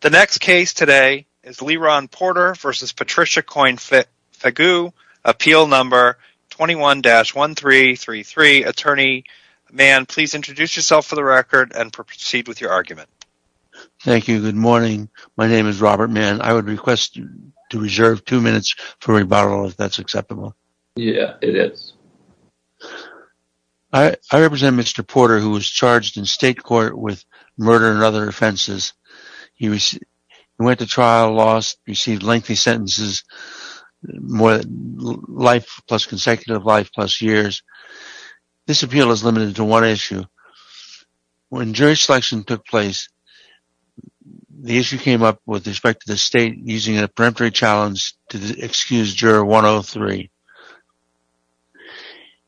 The next case today is Leron Porter v. Patricia Coyne-Fague, Appeal No. 21-1333. Attorney Mann, please introduce yourself for the record and proceed with your argument. Thank you. Good morning. My name is Robert Mann. I would request to reserve two minutes for rebuttal, if that's acceptable. Yeah, it is. I represent Mr. Porter, who was charged in state court with murder and other offenses. He went to trial, lost, received lengthy sentences, life plus consecutive life plus years. This appeal is limited to one issue. When jury selection took place, the issue came up with respect to the state using a peremptory challenge to excuse juror 103.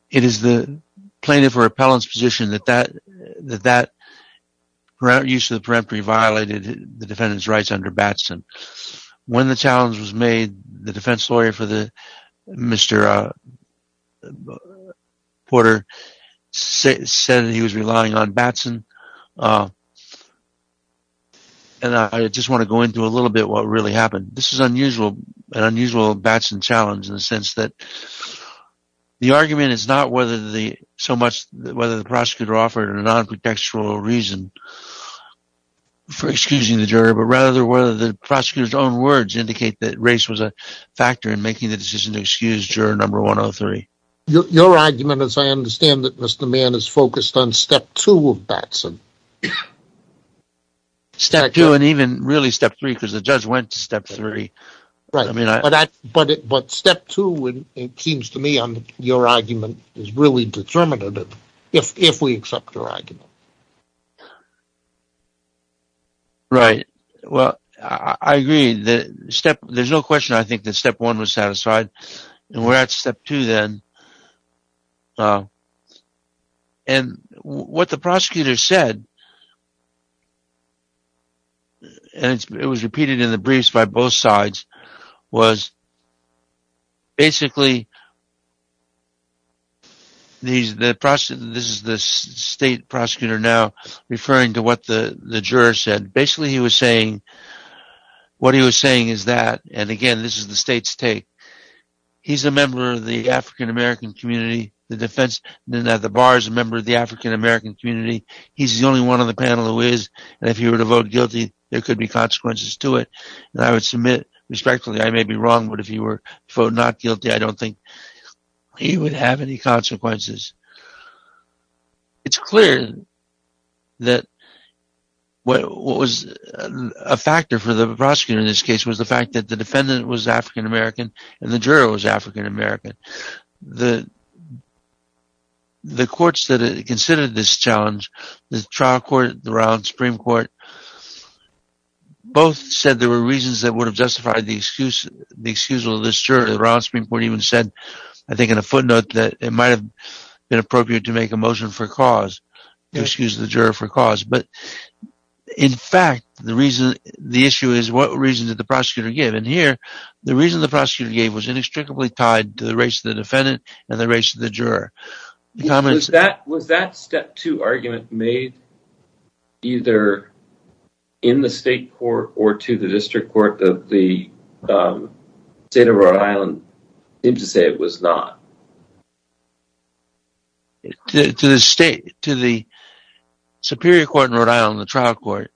It is the plaintiff or appellant's position that that use of the peremptory violated the defendant's rights under Batson. When the challenge was made, the defense lawyer for Mr. Porter said he was relying on Batson. I just want to go into a little bit of what really happened. This is an unusual Batson challenge in the sense that the argument is not whether the prosecutor offered a non-pretextual reason for excusing the juror, but rather whether the prosecutor's own words indicate that race was a factor in making the decision to excuse juror 103. Your argument, as I understand it, Mr. Mann, is focused on step two of Batson. Step two and even really step three because the judge went to step three. Right. But step two, it seems to me, your argument is really determinative if we accept your argument. Right. Well, I agree. There's no question I think that step one was satisfied. We're at step two then. What the prosecutor said, and it was repeated in the briefs by both sides, was basically, this is the state prosecutor now referring to what the juror said. Basically, he was saying, what he was saying is that, and again, this is the state's take, he's a member of the African-American community, the defense at the bar is a member of the African-American community, he's the only one on the panel who is, and if he were to vote guilty, there could be consequences to it. I would submit, respectfully, I may be wrong, but if he were to vote not guilty, I don't think he would have any consequences. It's clear that what was a factor for the prosecutor in this case was the fact that the defendant was African-American and the juror was African-American. The courts that considered this challenge, the trial court, the Royal Supreme Court, both said there were reasons that would have justified the excuse of this juror. The Royal Supreme Court even said, I think in a footnote, that it might have been appropriate to make a motion for cause, to excuse the juror for cause. But, in fact, the issue is, what reason did the prosecutor give? And here, the reason the prosecutor gave was inextricably tied to the race of the defendant and the race of the juror. Was that step two argument made either in the state court or to the district court that the state of Rhode Island seemed to say it was not? To the superior court in Rhode Island, the trial court,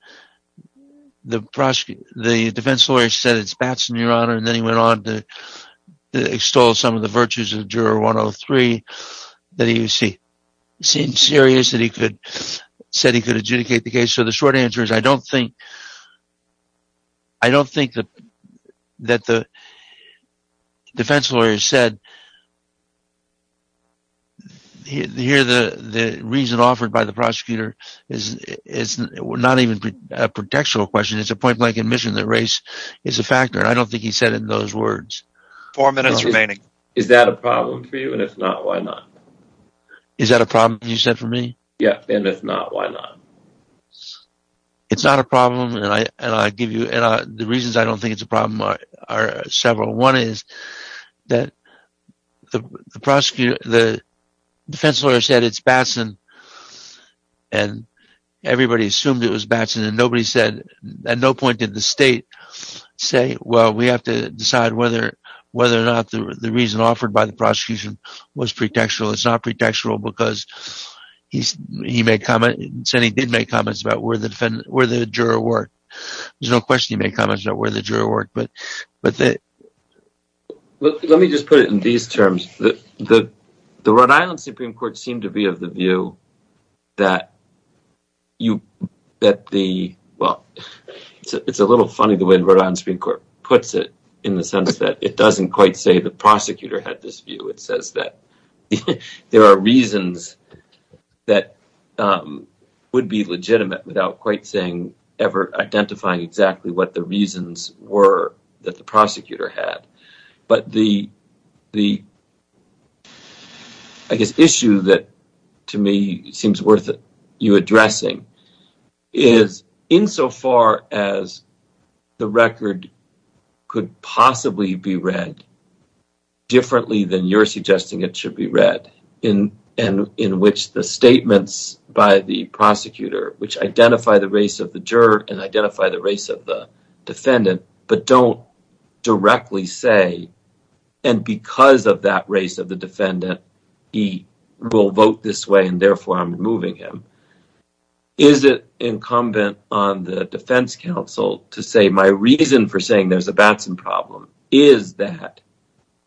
the defense lawyer said it's Batson, Your Honor, and then he went on to extol some of the virtues of Juror 103 that he seemed serious that he could adjudicate the case. So, the short answer is, I don't think that the defense lawyer said, here the reason offered by the prosecutor is not even a contextual question. It's a point-blank admission that race is a factor. I don't think he said it in those words. Four minutes remaining. Is that a problem for you, and if not, why not? Is that a problem you said for me? Yeah, and if not, why not? It's not a problem, and the reasons I don't think it's a problem are several. One is that the defense lawyer said it's Batson, and everybody assumed it was Batson, and at no point did the state say, well, we have to decide whether or not the reason offered by the prosecution was pretextual. It's not pretextual because he said he did make comments about where the juror worked. There's no question he made comments about where the juror worked. Let me just put it in these terms. The Rhode Island Supreme Court seemed to be of the view that you, that the, well, it's a little funny the way the Rhode Island Supreme Court puts it in the sense that it doesn't quite say the prosecutor had this view. It says that there are reasons that would be legitimate without quite saying, ever identifying exactly what the reasons were that the prosecutor had. But the, I guess, issue that to me seems worth you addressing is, insofar as the record could possibly be read differently than you're suggesting it should be read, in which the statements by the prosecutor, which identify the race of the juror and identify the race of the defendant, but don't directly say, and because of that race of the defendant, he will vote this way and therefore I'm removing him. Is it incumbent on the defense counsel to say my reason for saying there's a Batson problem is that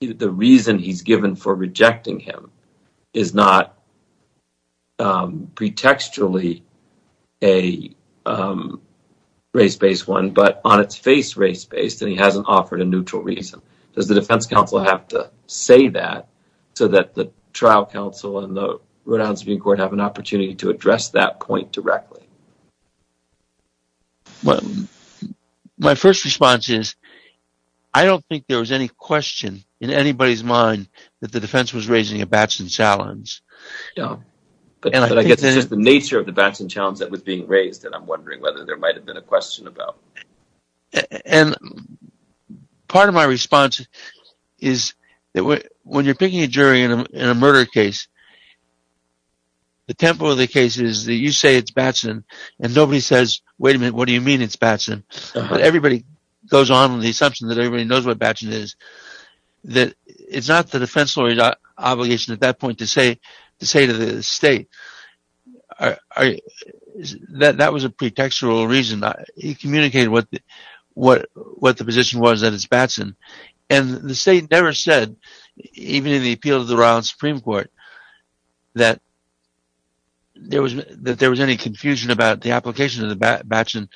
the reason he's given for rejecting him is not pretextually a race-based one, but on its face race-based and he hasn't offered a neutral reason. Does the defense counsel have to say that so that the trial counsel and the Rhode Island Supreme Court have an opportunity to address that point directly? My first response is, I don't think there was any question in anybody's mind that the defense was raising a Batson challenge. But I guess it's just the nature of the Batson challenge that was being raised that I'm wondering whether there might have been a question about. Part of my response is that when you're picking a jury in a murder case, the tempo of the case is that you say it's Batson and nobody says, wait a minute, what do you mean it's Batson? Everybody goes on with the assumption that everybody knows what Batson is. It's not the defense lawyer's obligation at that point to say to the state that that was a pretextual reason. He communicated what the position was that it's Batson and the state never said, even in the appeal to the Rhode Island Supreme Court, that there was any confusion about the application of the Batson.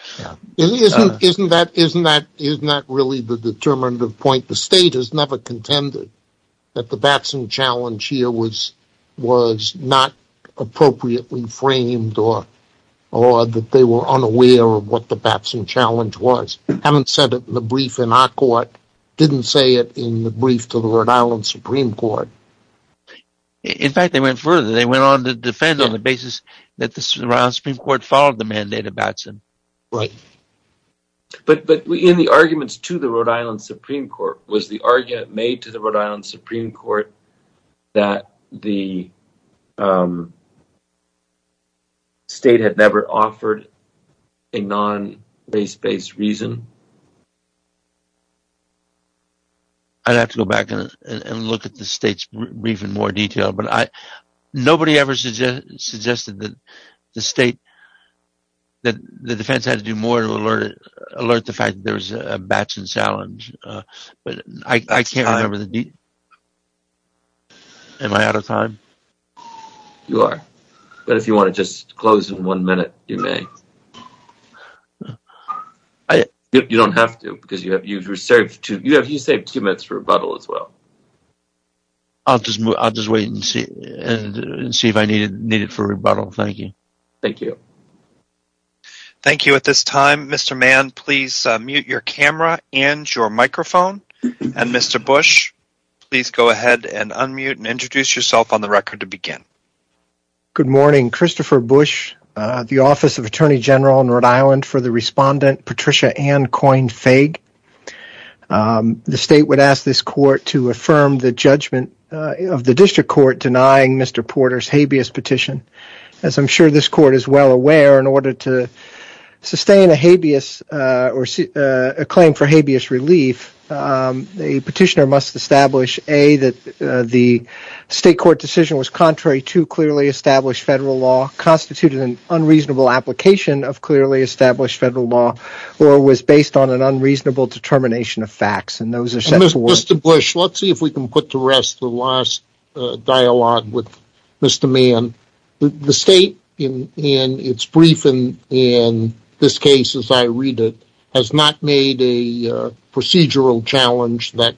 Isn't that really the determinative point? The state has never contended that the Batson challenge here was not appropriately framed or that they were unaware of what the Batson challenge was. Having said it in the brief in our court, didn't say it in the brief to the Rhode Island Supreme Court. In fact, they went further. They went on to defend on the basis that the Rhode Island Supreme Court followed the mandate of Batson. But in the arguments to the Rhode Island Supreme Court, was the argument made to the Rhode Island Supreme Court that the state had never offered a non-base-based reason? I'd have to go back and look at the state's brief in more detail. Nobody ever suggested that the defense had to do more to alert the fact that there was a Batson challenge. Am I out of time? You are. But if you want to just close in one minute, you may. You don't have to because you saved two minutes for rebuttal as well. I'll just wait and see if I need it for rebuttal. Thank you. Thank you. Thank you. At this time, Mr. Mann, please mute your camera and your microphone. And Mr. Bush, please go ahead and unmute and introduce yourself on the record to begin. Good morning. Christopher Bush, the Office of Attorney General in Rhode Island. For the respondent, Patricia Ann Coyne-Faig. The state would ask this court to affirm the judgment of the district court denying Mr. Porter's habeas petition. As I'm sure this court is well aware, in order to sustain a claim for habeas relief, a petitioner must establish that the state court decision was contrary to clearly established federal law, constituted an unreasonable application of clearly established federal law, or was based on an unreasonable determination of facts. Mr. Bush, let's see if we can put to rest the last dialogue with Mr. Mann. The state, in its brief and in this case as I read it, has not made a procedural challenge that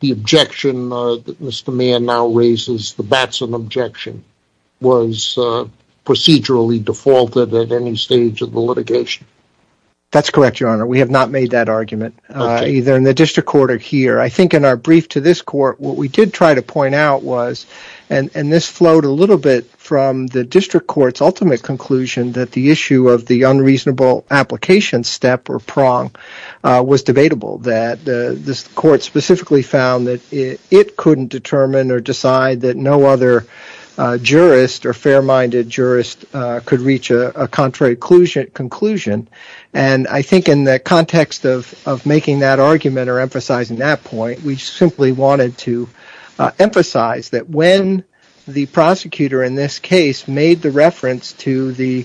the objection that Mr. Mann now raises, the Batson objection, was procedurally defaulted at any stage of the litigation. That's correct, Your Honor. We have not made that argument, either in the district court or here. I think in our brief to this court, what we did try to point out was, and this flowed a little bit from the district court's ultimate conclusion, that the issue of the unreasonable application step or prong was debatable, that this court specifically found that it couldn't determine or decide that no other jurist or fair-minded jurist could reach a contrary conclusion. I think in the context of making that argument or emphasizing that point, we simply wanted to emphasize that when the prosecutor in this case made the reference to the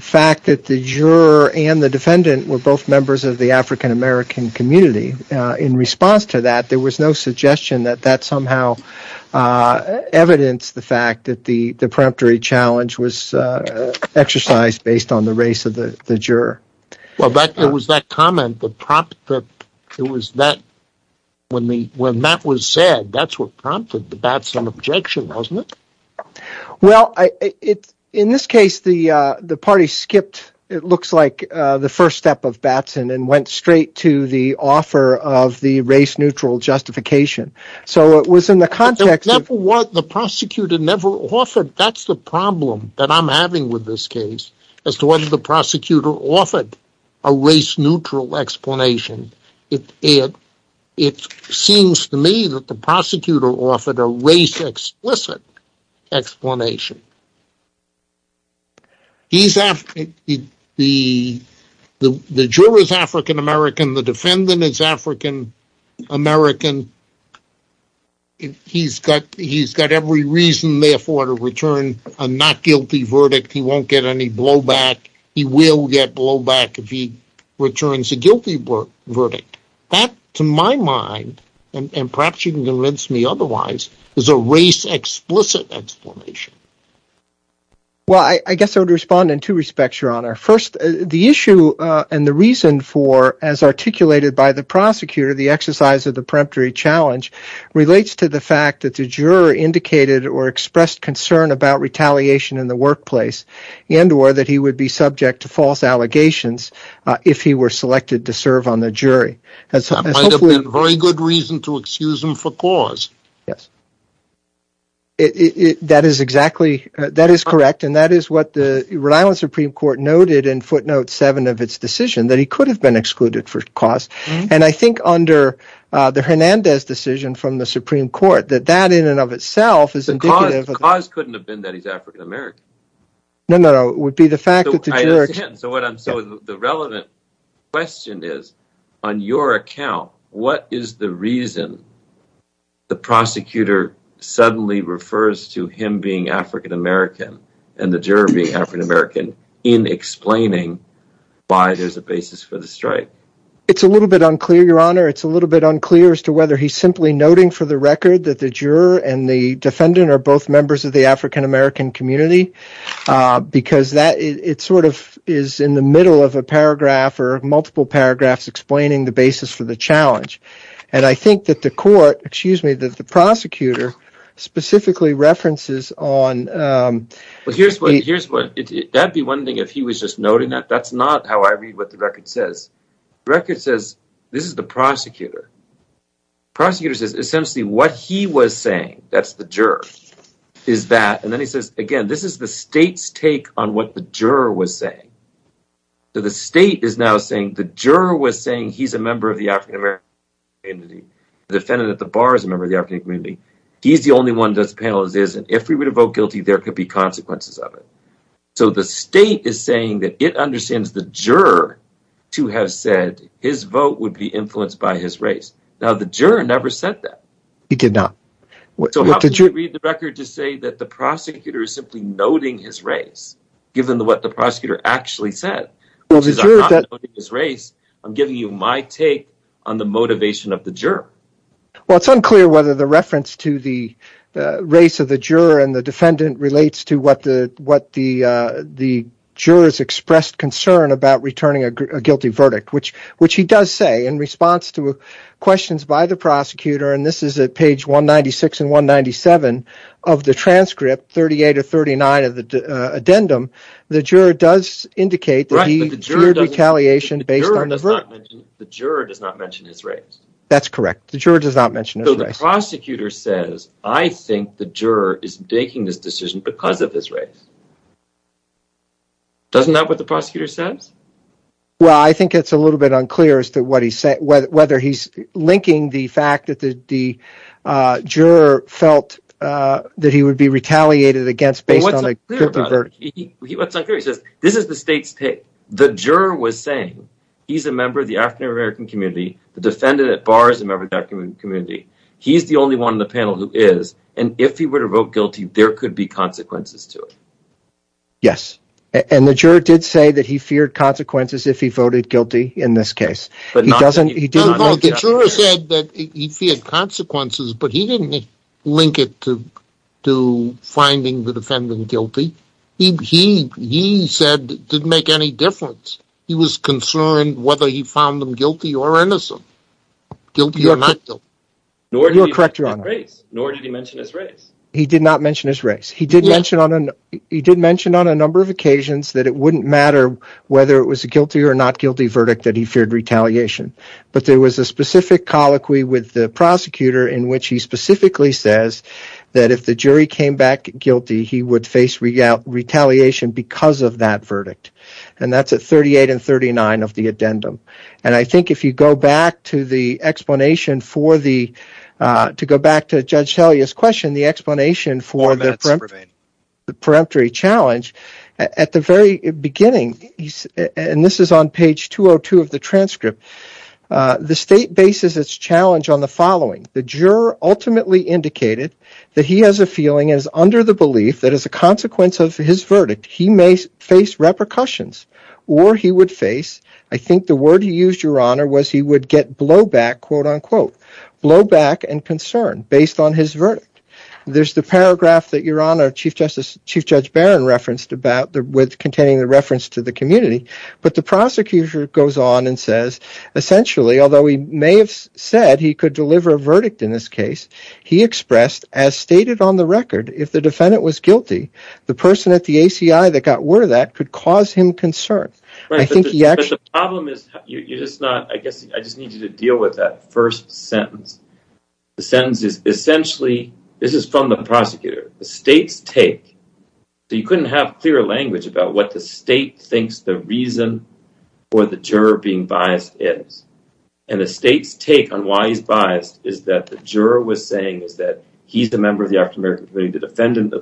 fact that the juror and the defendant were both members of the African-American community, in response to that, there was no suggestion that that somehow evidenced the fact that the preemptory challenge was exercised based on the race of the juror. Well, it was that comment, when that was said, that's what prompted the Batson objection, wasn't it? Well, in this case, the party skipped, it looks like, the first step of Batson and went straight to the offer of the race-neutral justification. That's the problem that I'm having with this case, as to whether the prosecutor offered a race-neutral explanation. It seems to me that the prosecutor offered a race-explicit explanation. The juror is African-American, the defendant is African-American, he's got every reason therefore to return a not-guilty verdict, he won't get any blowback, he will get blowback if he returns a guilty verdict. That, to my mind, and perhaps you can convince me otherwise, is a race-explicit explanation. Well, I guess I would respond in two respects, Your Honor. First, the issue and the reason for, as articulated by the prosecutor, the exercise of the preemptory challenge relates to the fact that the juror indicated or expressed concern about retaliation in the workplace, and or that he would be subject to false allegations if he were selected to serve on the jury. That might have been a very good reason to excuse him for cause. That is correct, and that is what the Rhode Island Supreme Court noted in footnote 7 of its decision, that he could have been excluded for cause, and I think under the Hernandez decision from the Supreme Court, that that in and of itself is indicative... The cause couldn't have been that he's African-American. No, no, no, it would be the fact that the juror... I understand, so the relevant question is, on your account, what is the reason the prosecutor suddenly refers to him being African-American and the juror being African-American in explaining why there's a basis for the strike? It's a little bit unclear, Your Honor. It's a little bit unclear as to whether he's simply noting for the record that the juror and the defendant are both members of the African-American community, because it's in the middle of a paragraph or multiple paragraphs explaining the basis for the challenge. And I think that the court, excuse me, that the prosecutor specifically references on... But here's what, here's what, that'd be one thing if he was just noting that. That's not how I read what the record says. The record says, this is the prosecutor. The prosecutor says, essentially, what he was saying, that's the juror, is that, and then he says, again, this is the state's take on what the juror was saying. So the state is now saying, the juror was saying he's a member of the African-American community. The defendant at the bar is a member of the African-American community. He's the only one who does the panel as is, and if we were to vote guilty, there could be consequences of it. So the state is saying that it understands the juror to have said his vote would be influenced by his race. Now, the juror never said that. He did not. So how could you read the record to say that the prosecutor is simply noting his race, given what the prosecutor actually said, which is I'm not noting his race. I'm giving you my take on the motivation of the juror. Well, it's unclear whether the reference to the race of the juror and the defendant relates to what the jurors expressed concern about returning a guilty verdict, which he does say in response to questions by the prosecutor, and this is at page 196 and 197 of the transcript, 38 or 39 of the addendum, the juror does indicate that he feared retaliation based on the verdict. The juror does not mention his race. That's correct. The juror does not mention his race. So the prosecutor says, I think the juror is making this decision because of his race. Doesn't that what the prosecutor says? Well, I think it's a little bit unclear as to whether he's linking the fact that the juror felt that he would be retaliated against based on a guilty verdict. This is the state's take. The juror was saying he's a member of the African-American community. The defendant at bar is a member of the African-American community. He's the only one in the panel who is, and if he were to vote guilty, there could be consequences to it. Yes. And the juror did say that he feared consequences if he voted guilty in this case. The juror said that he feared consequences, but he didn't link it to finding the defendant guilty. He said it didn't make any difference. He was concerned whether he found them guilty or innocent. Guilty or not guilty. Nor did he mention his race. He did not mention his race. He did mention on a number of occasions that it wouldn't matter whether it was a guilty or not guilty verdict that he feared retaliation. But there was a specific colloquy with the prosecutor in which he specifically says that if the jury came back guilty, he would face retaliation because of that verdict. And that's at 38 and 39 of the addendum. And I think if you go back to Judge Talia's question, the explanation for the peremptory challenge, at the very beginning, and this is on page 202 of the transcript, the state bases its challenge on the following. The juror ultimately indicated that he has a feeling and is under the belief that as a consequence of his verdict, he may face repercussions. Or he would face, I think the word he used, your honor, was he would get blowback, quote-unquote. Blowback and concern based on his verdict. There's the paragraph that your honor, Chief Judge Barron referenced about containing the reference to the community. But the prosecutor goes on and says, essentially, although he may have said he could deliver a verdict in this case, he expressed, as stated on the record, if the defendant was guilty, the person at the ACI that got word of that could cause him concern. But the problem is, you're just not, I guess I just need you to deal with that first sentence. The sentence is, essentially, this is from the prosecutor. The state's take, so you couldn't have clearer language about what the state thinks the reason for the juror being biased is. And the state's take on why he's biased is that the juror was saying that he's a member of the African American community, the defendant,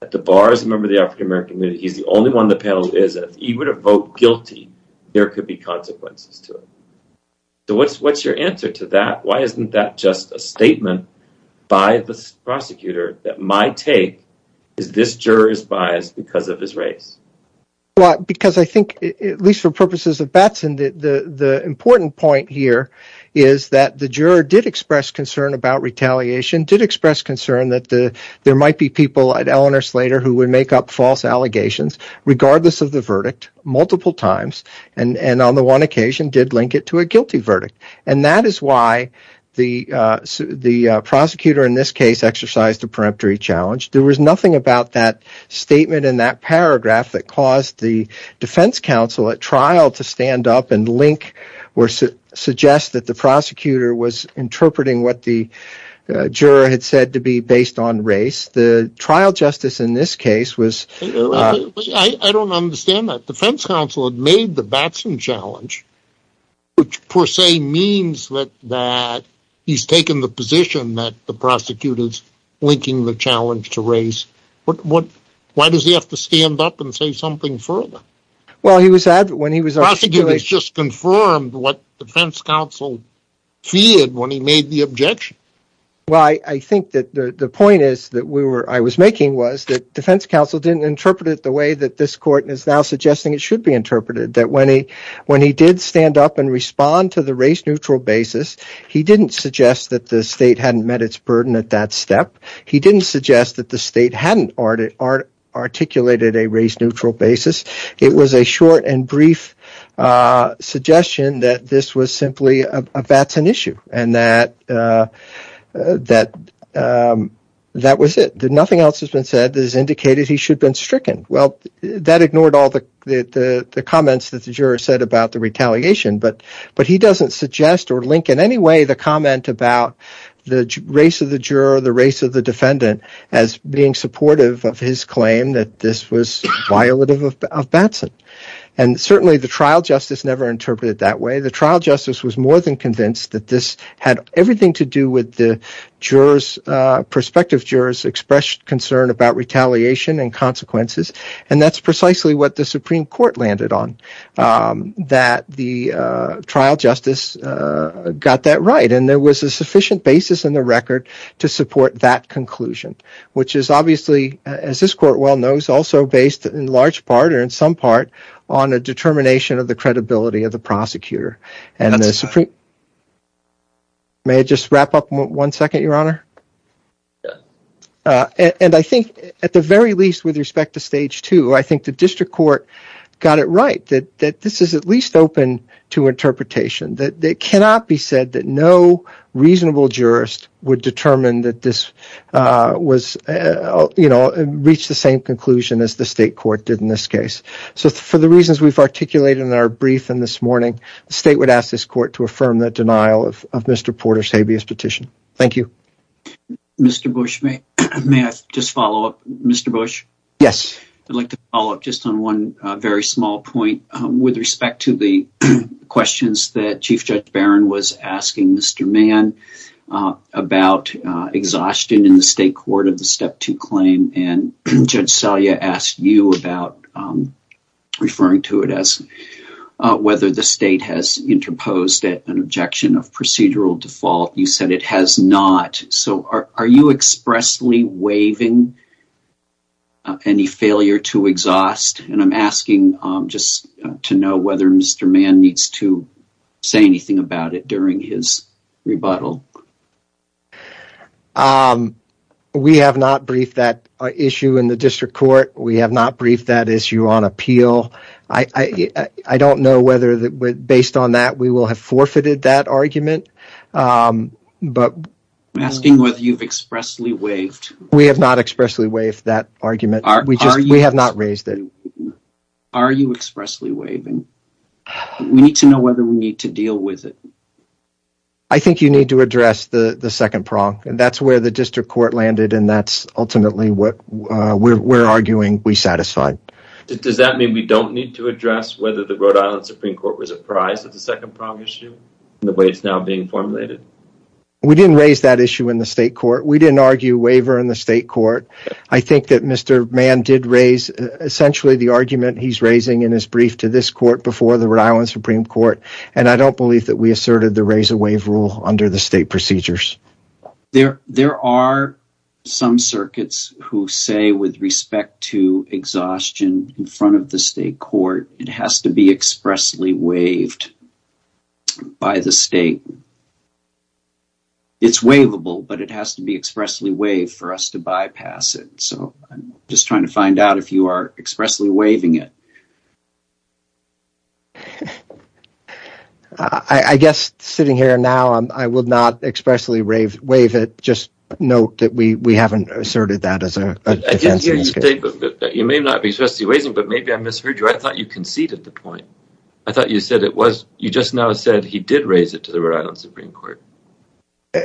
that the bar is a member of the African American community. He's the only one on the panel who isn't. If he were to vote guilty, there could be consequences to it. So what's your answer to that? Why isn't that just a statement by the prosecutor that my take is this juror is biased because of his race? Because I think, at least for purposes of Batson, the important point here is that the juror did express concern about retaliation, did express concern that there might be people at Eleanor Slater who would make up false allegations, regardless of the verdict, multiple times, and on the one occasion did link it to a guilty verdict. And that is why the prosecutor in this case exercised a preemptory challenge. There was nothing about that statement in that paragraph that caused the defense counsel at trial to stand up and suggest that the prosecutor was interpreting what the juror had said to be based on race. I don't understand that. The defense counsel had made the Batson challenge, which per se means that he's taken the position that the prosecutor is linking the challenge to race. Why does he have to stand up and say something further? The prosecutor has just confirmed what the defense counsel feared when he made the objection. The point I was making was that the defense counsel didn't interpret it the way that this court is now suggesting it should be interpreted. When he did stand up and respond to the race-neutral basis, he didn't suggest that the state hadn't met its burden at that step. He didn't suggest that the state hadn't articulated a race-neutral basis. It was a short and brief suggestion that this was simply a Batson issue and that that was it. Nothing else has been said that has indicated he should have been stricken. That ignored all the comments that the juror said about the retaliation, but he doesn't suggest or link in any way the comment about the race of the juror or the race of the defendant as being supportive of his claim that this was violative of Batson. Certainly, the trial justice never interpreted it that way. The trial justice was more than convinced that this had everything to do with the prospective jurors' expressed concern about retaliation and consequences. That's precisely what the Supreme Court landed on, that the trial justice got that right and there was a sufficient basis in the record to support that conclusion, which is obviously, as this court well knows, also based in large part or in some part on a determination of the credibility of the prosecutor. At the very least, with respect to Stage 2, I think the district court got it right that this is at least open to interpretation. It cannot be said that no reasonable jurist would determine that this reached the same conclusion as the state court did in this case. For the reasons we've articulated in our briefing this morning, the state would ask this court to affirm the denial of Mr. Porter's habeas petition. Thank you. Mr. Bush, may I just follow up? Yes. I'd like to follow up just on one very small point with respect to the questions that Chief Judge Barron was asking Mr. Mann about exhaustion in the state court of the Step 2 claim. Judge Selye asked you about referring to it as whether the state has interposed an objection of procedural default. You said it has not. Are you expressly waiving any failure to exhaust? I'm asking just to know whether Mr. Mann needs to say anything about it during his rebuttal. We have not briefed that issue in the district court. We have not briefed that issue on appeal. I don't know whether, based on that, we will have forfeited that argument. I'm asking whether you've expressly waived. We have not expressly waived that argument. We have not raised it. Are you expressly waiving? We need to know whether we need to deal with it. I think you need to address the second prong. That's where the district court landed and that's ultimately what we're arguing we satisfy. Does that mean we don't need to address whether the Rhode Island Supreme Court was apprised of the second prong issue in the way it's now being formulated? We didn't raise that issue in the state court. We didn't argue waiver in the state court. I think that Mr. Mann did raise essentially the argument he's raising in his brief to this court before the Rhode Island Supreme Court. I don't believe that we asserted the raise or waive rule under the state procedures. There are some circuits who say, with respect to exhaustion in front of the state court, it has to be expressly waived by the state. It's waivable, but it has to be expressly waived for us to bypass it. I'm just trying to find out if you are expressly waiving it. I guess sitting here now, I will not expressly waive it. Just note that we haven't asserted that as a defense. You may not be expressly waiving, but maybe I misheard you. I thought you conceded the point. I thought you just now said he did raise it to the Rhode Island Supreme Court.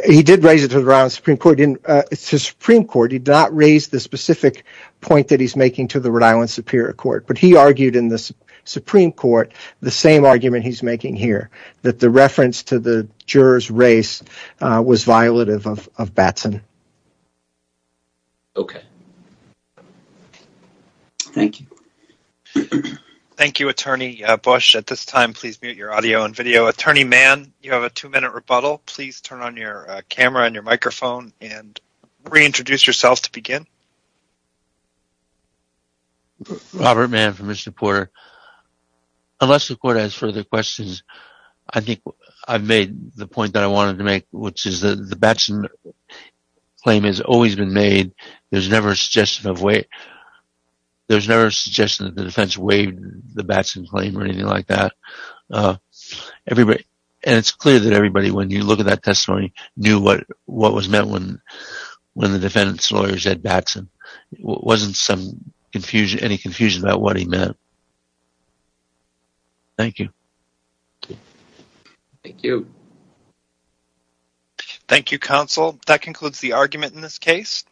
He did raise it to the Rhode Island Supreme Court. It's the Supreme Court. He did not raise the specific point that he's making to the Rhode Island Superior Court. But he argued in the Supreme Court the same argument he's making here, that the reference to the juror's raise was violative of Batson. Okay. Thank you. Thank you, Attorney Bush. At this time, please mute your audio and video. Attorney Mann, you have a two-minute rebuttal. Please turn on your camera and your microphone and reintroduce yourself to begin. Robert Mann for Mr. Porter. Unless the court has further questions, I think I've made the point that I wanted to make, which is that the Batson claim has always been made. There's never a suggestion that the defense waived the Batson claim or anything like that. It's clear that everybody, when you look at that testimony, knew what was meant when the defendant's lawyer said Batson. There wasn't any confusion about what he meant. Thank you. Thank you. Thank you, counsel. That concludes the argument in this case.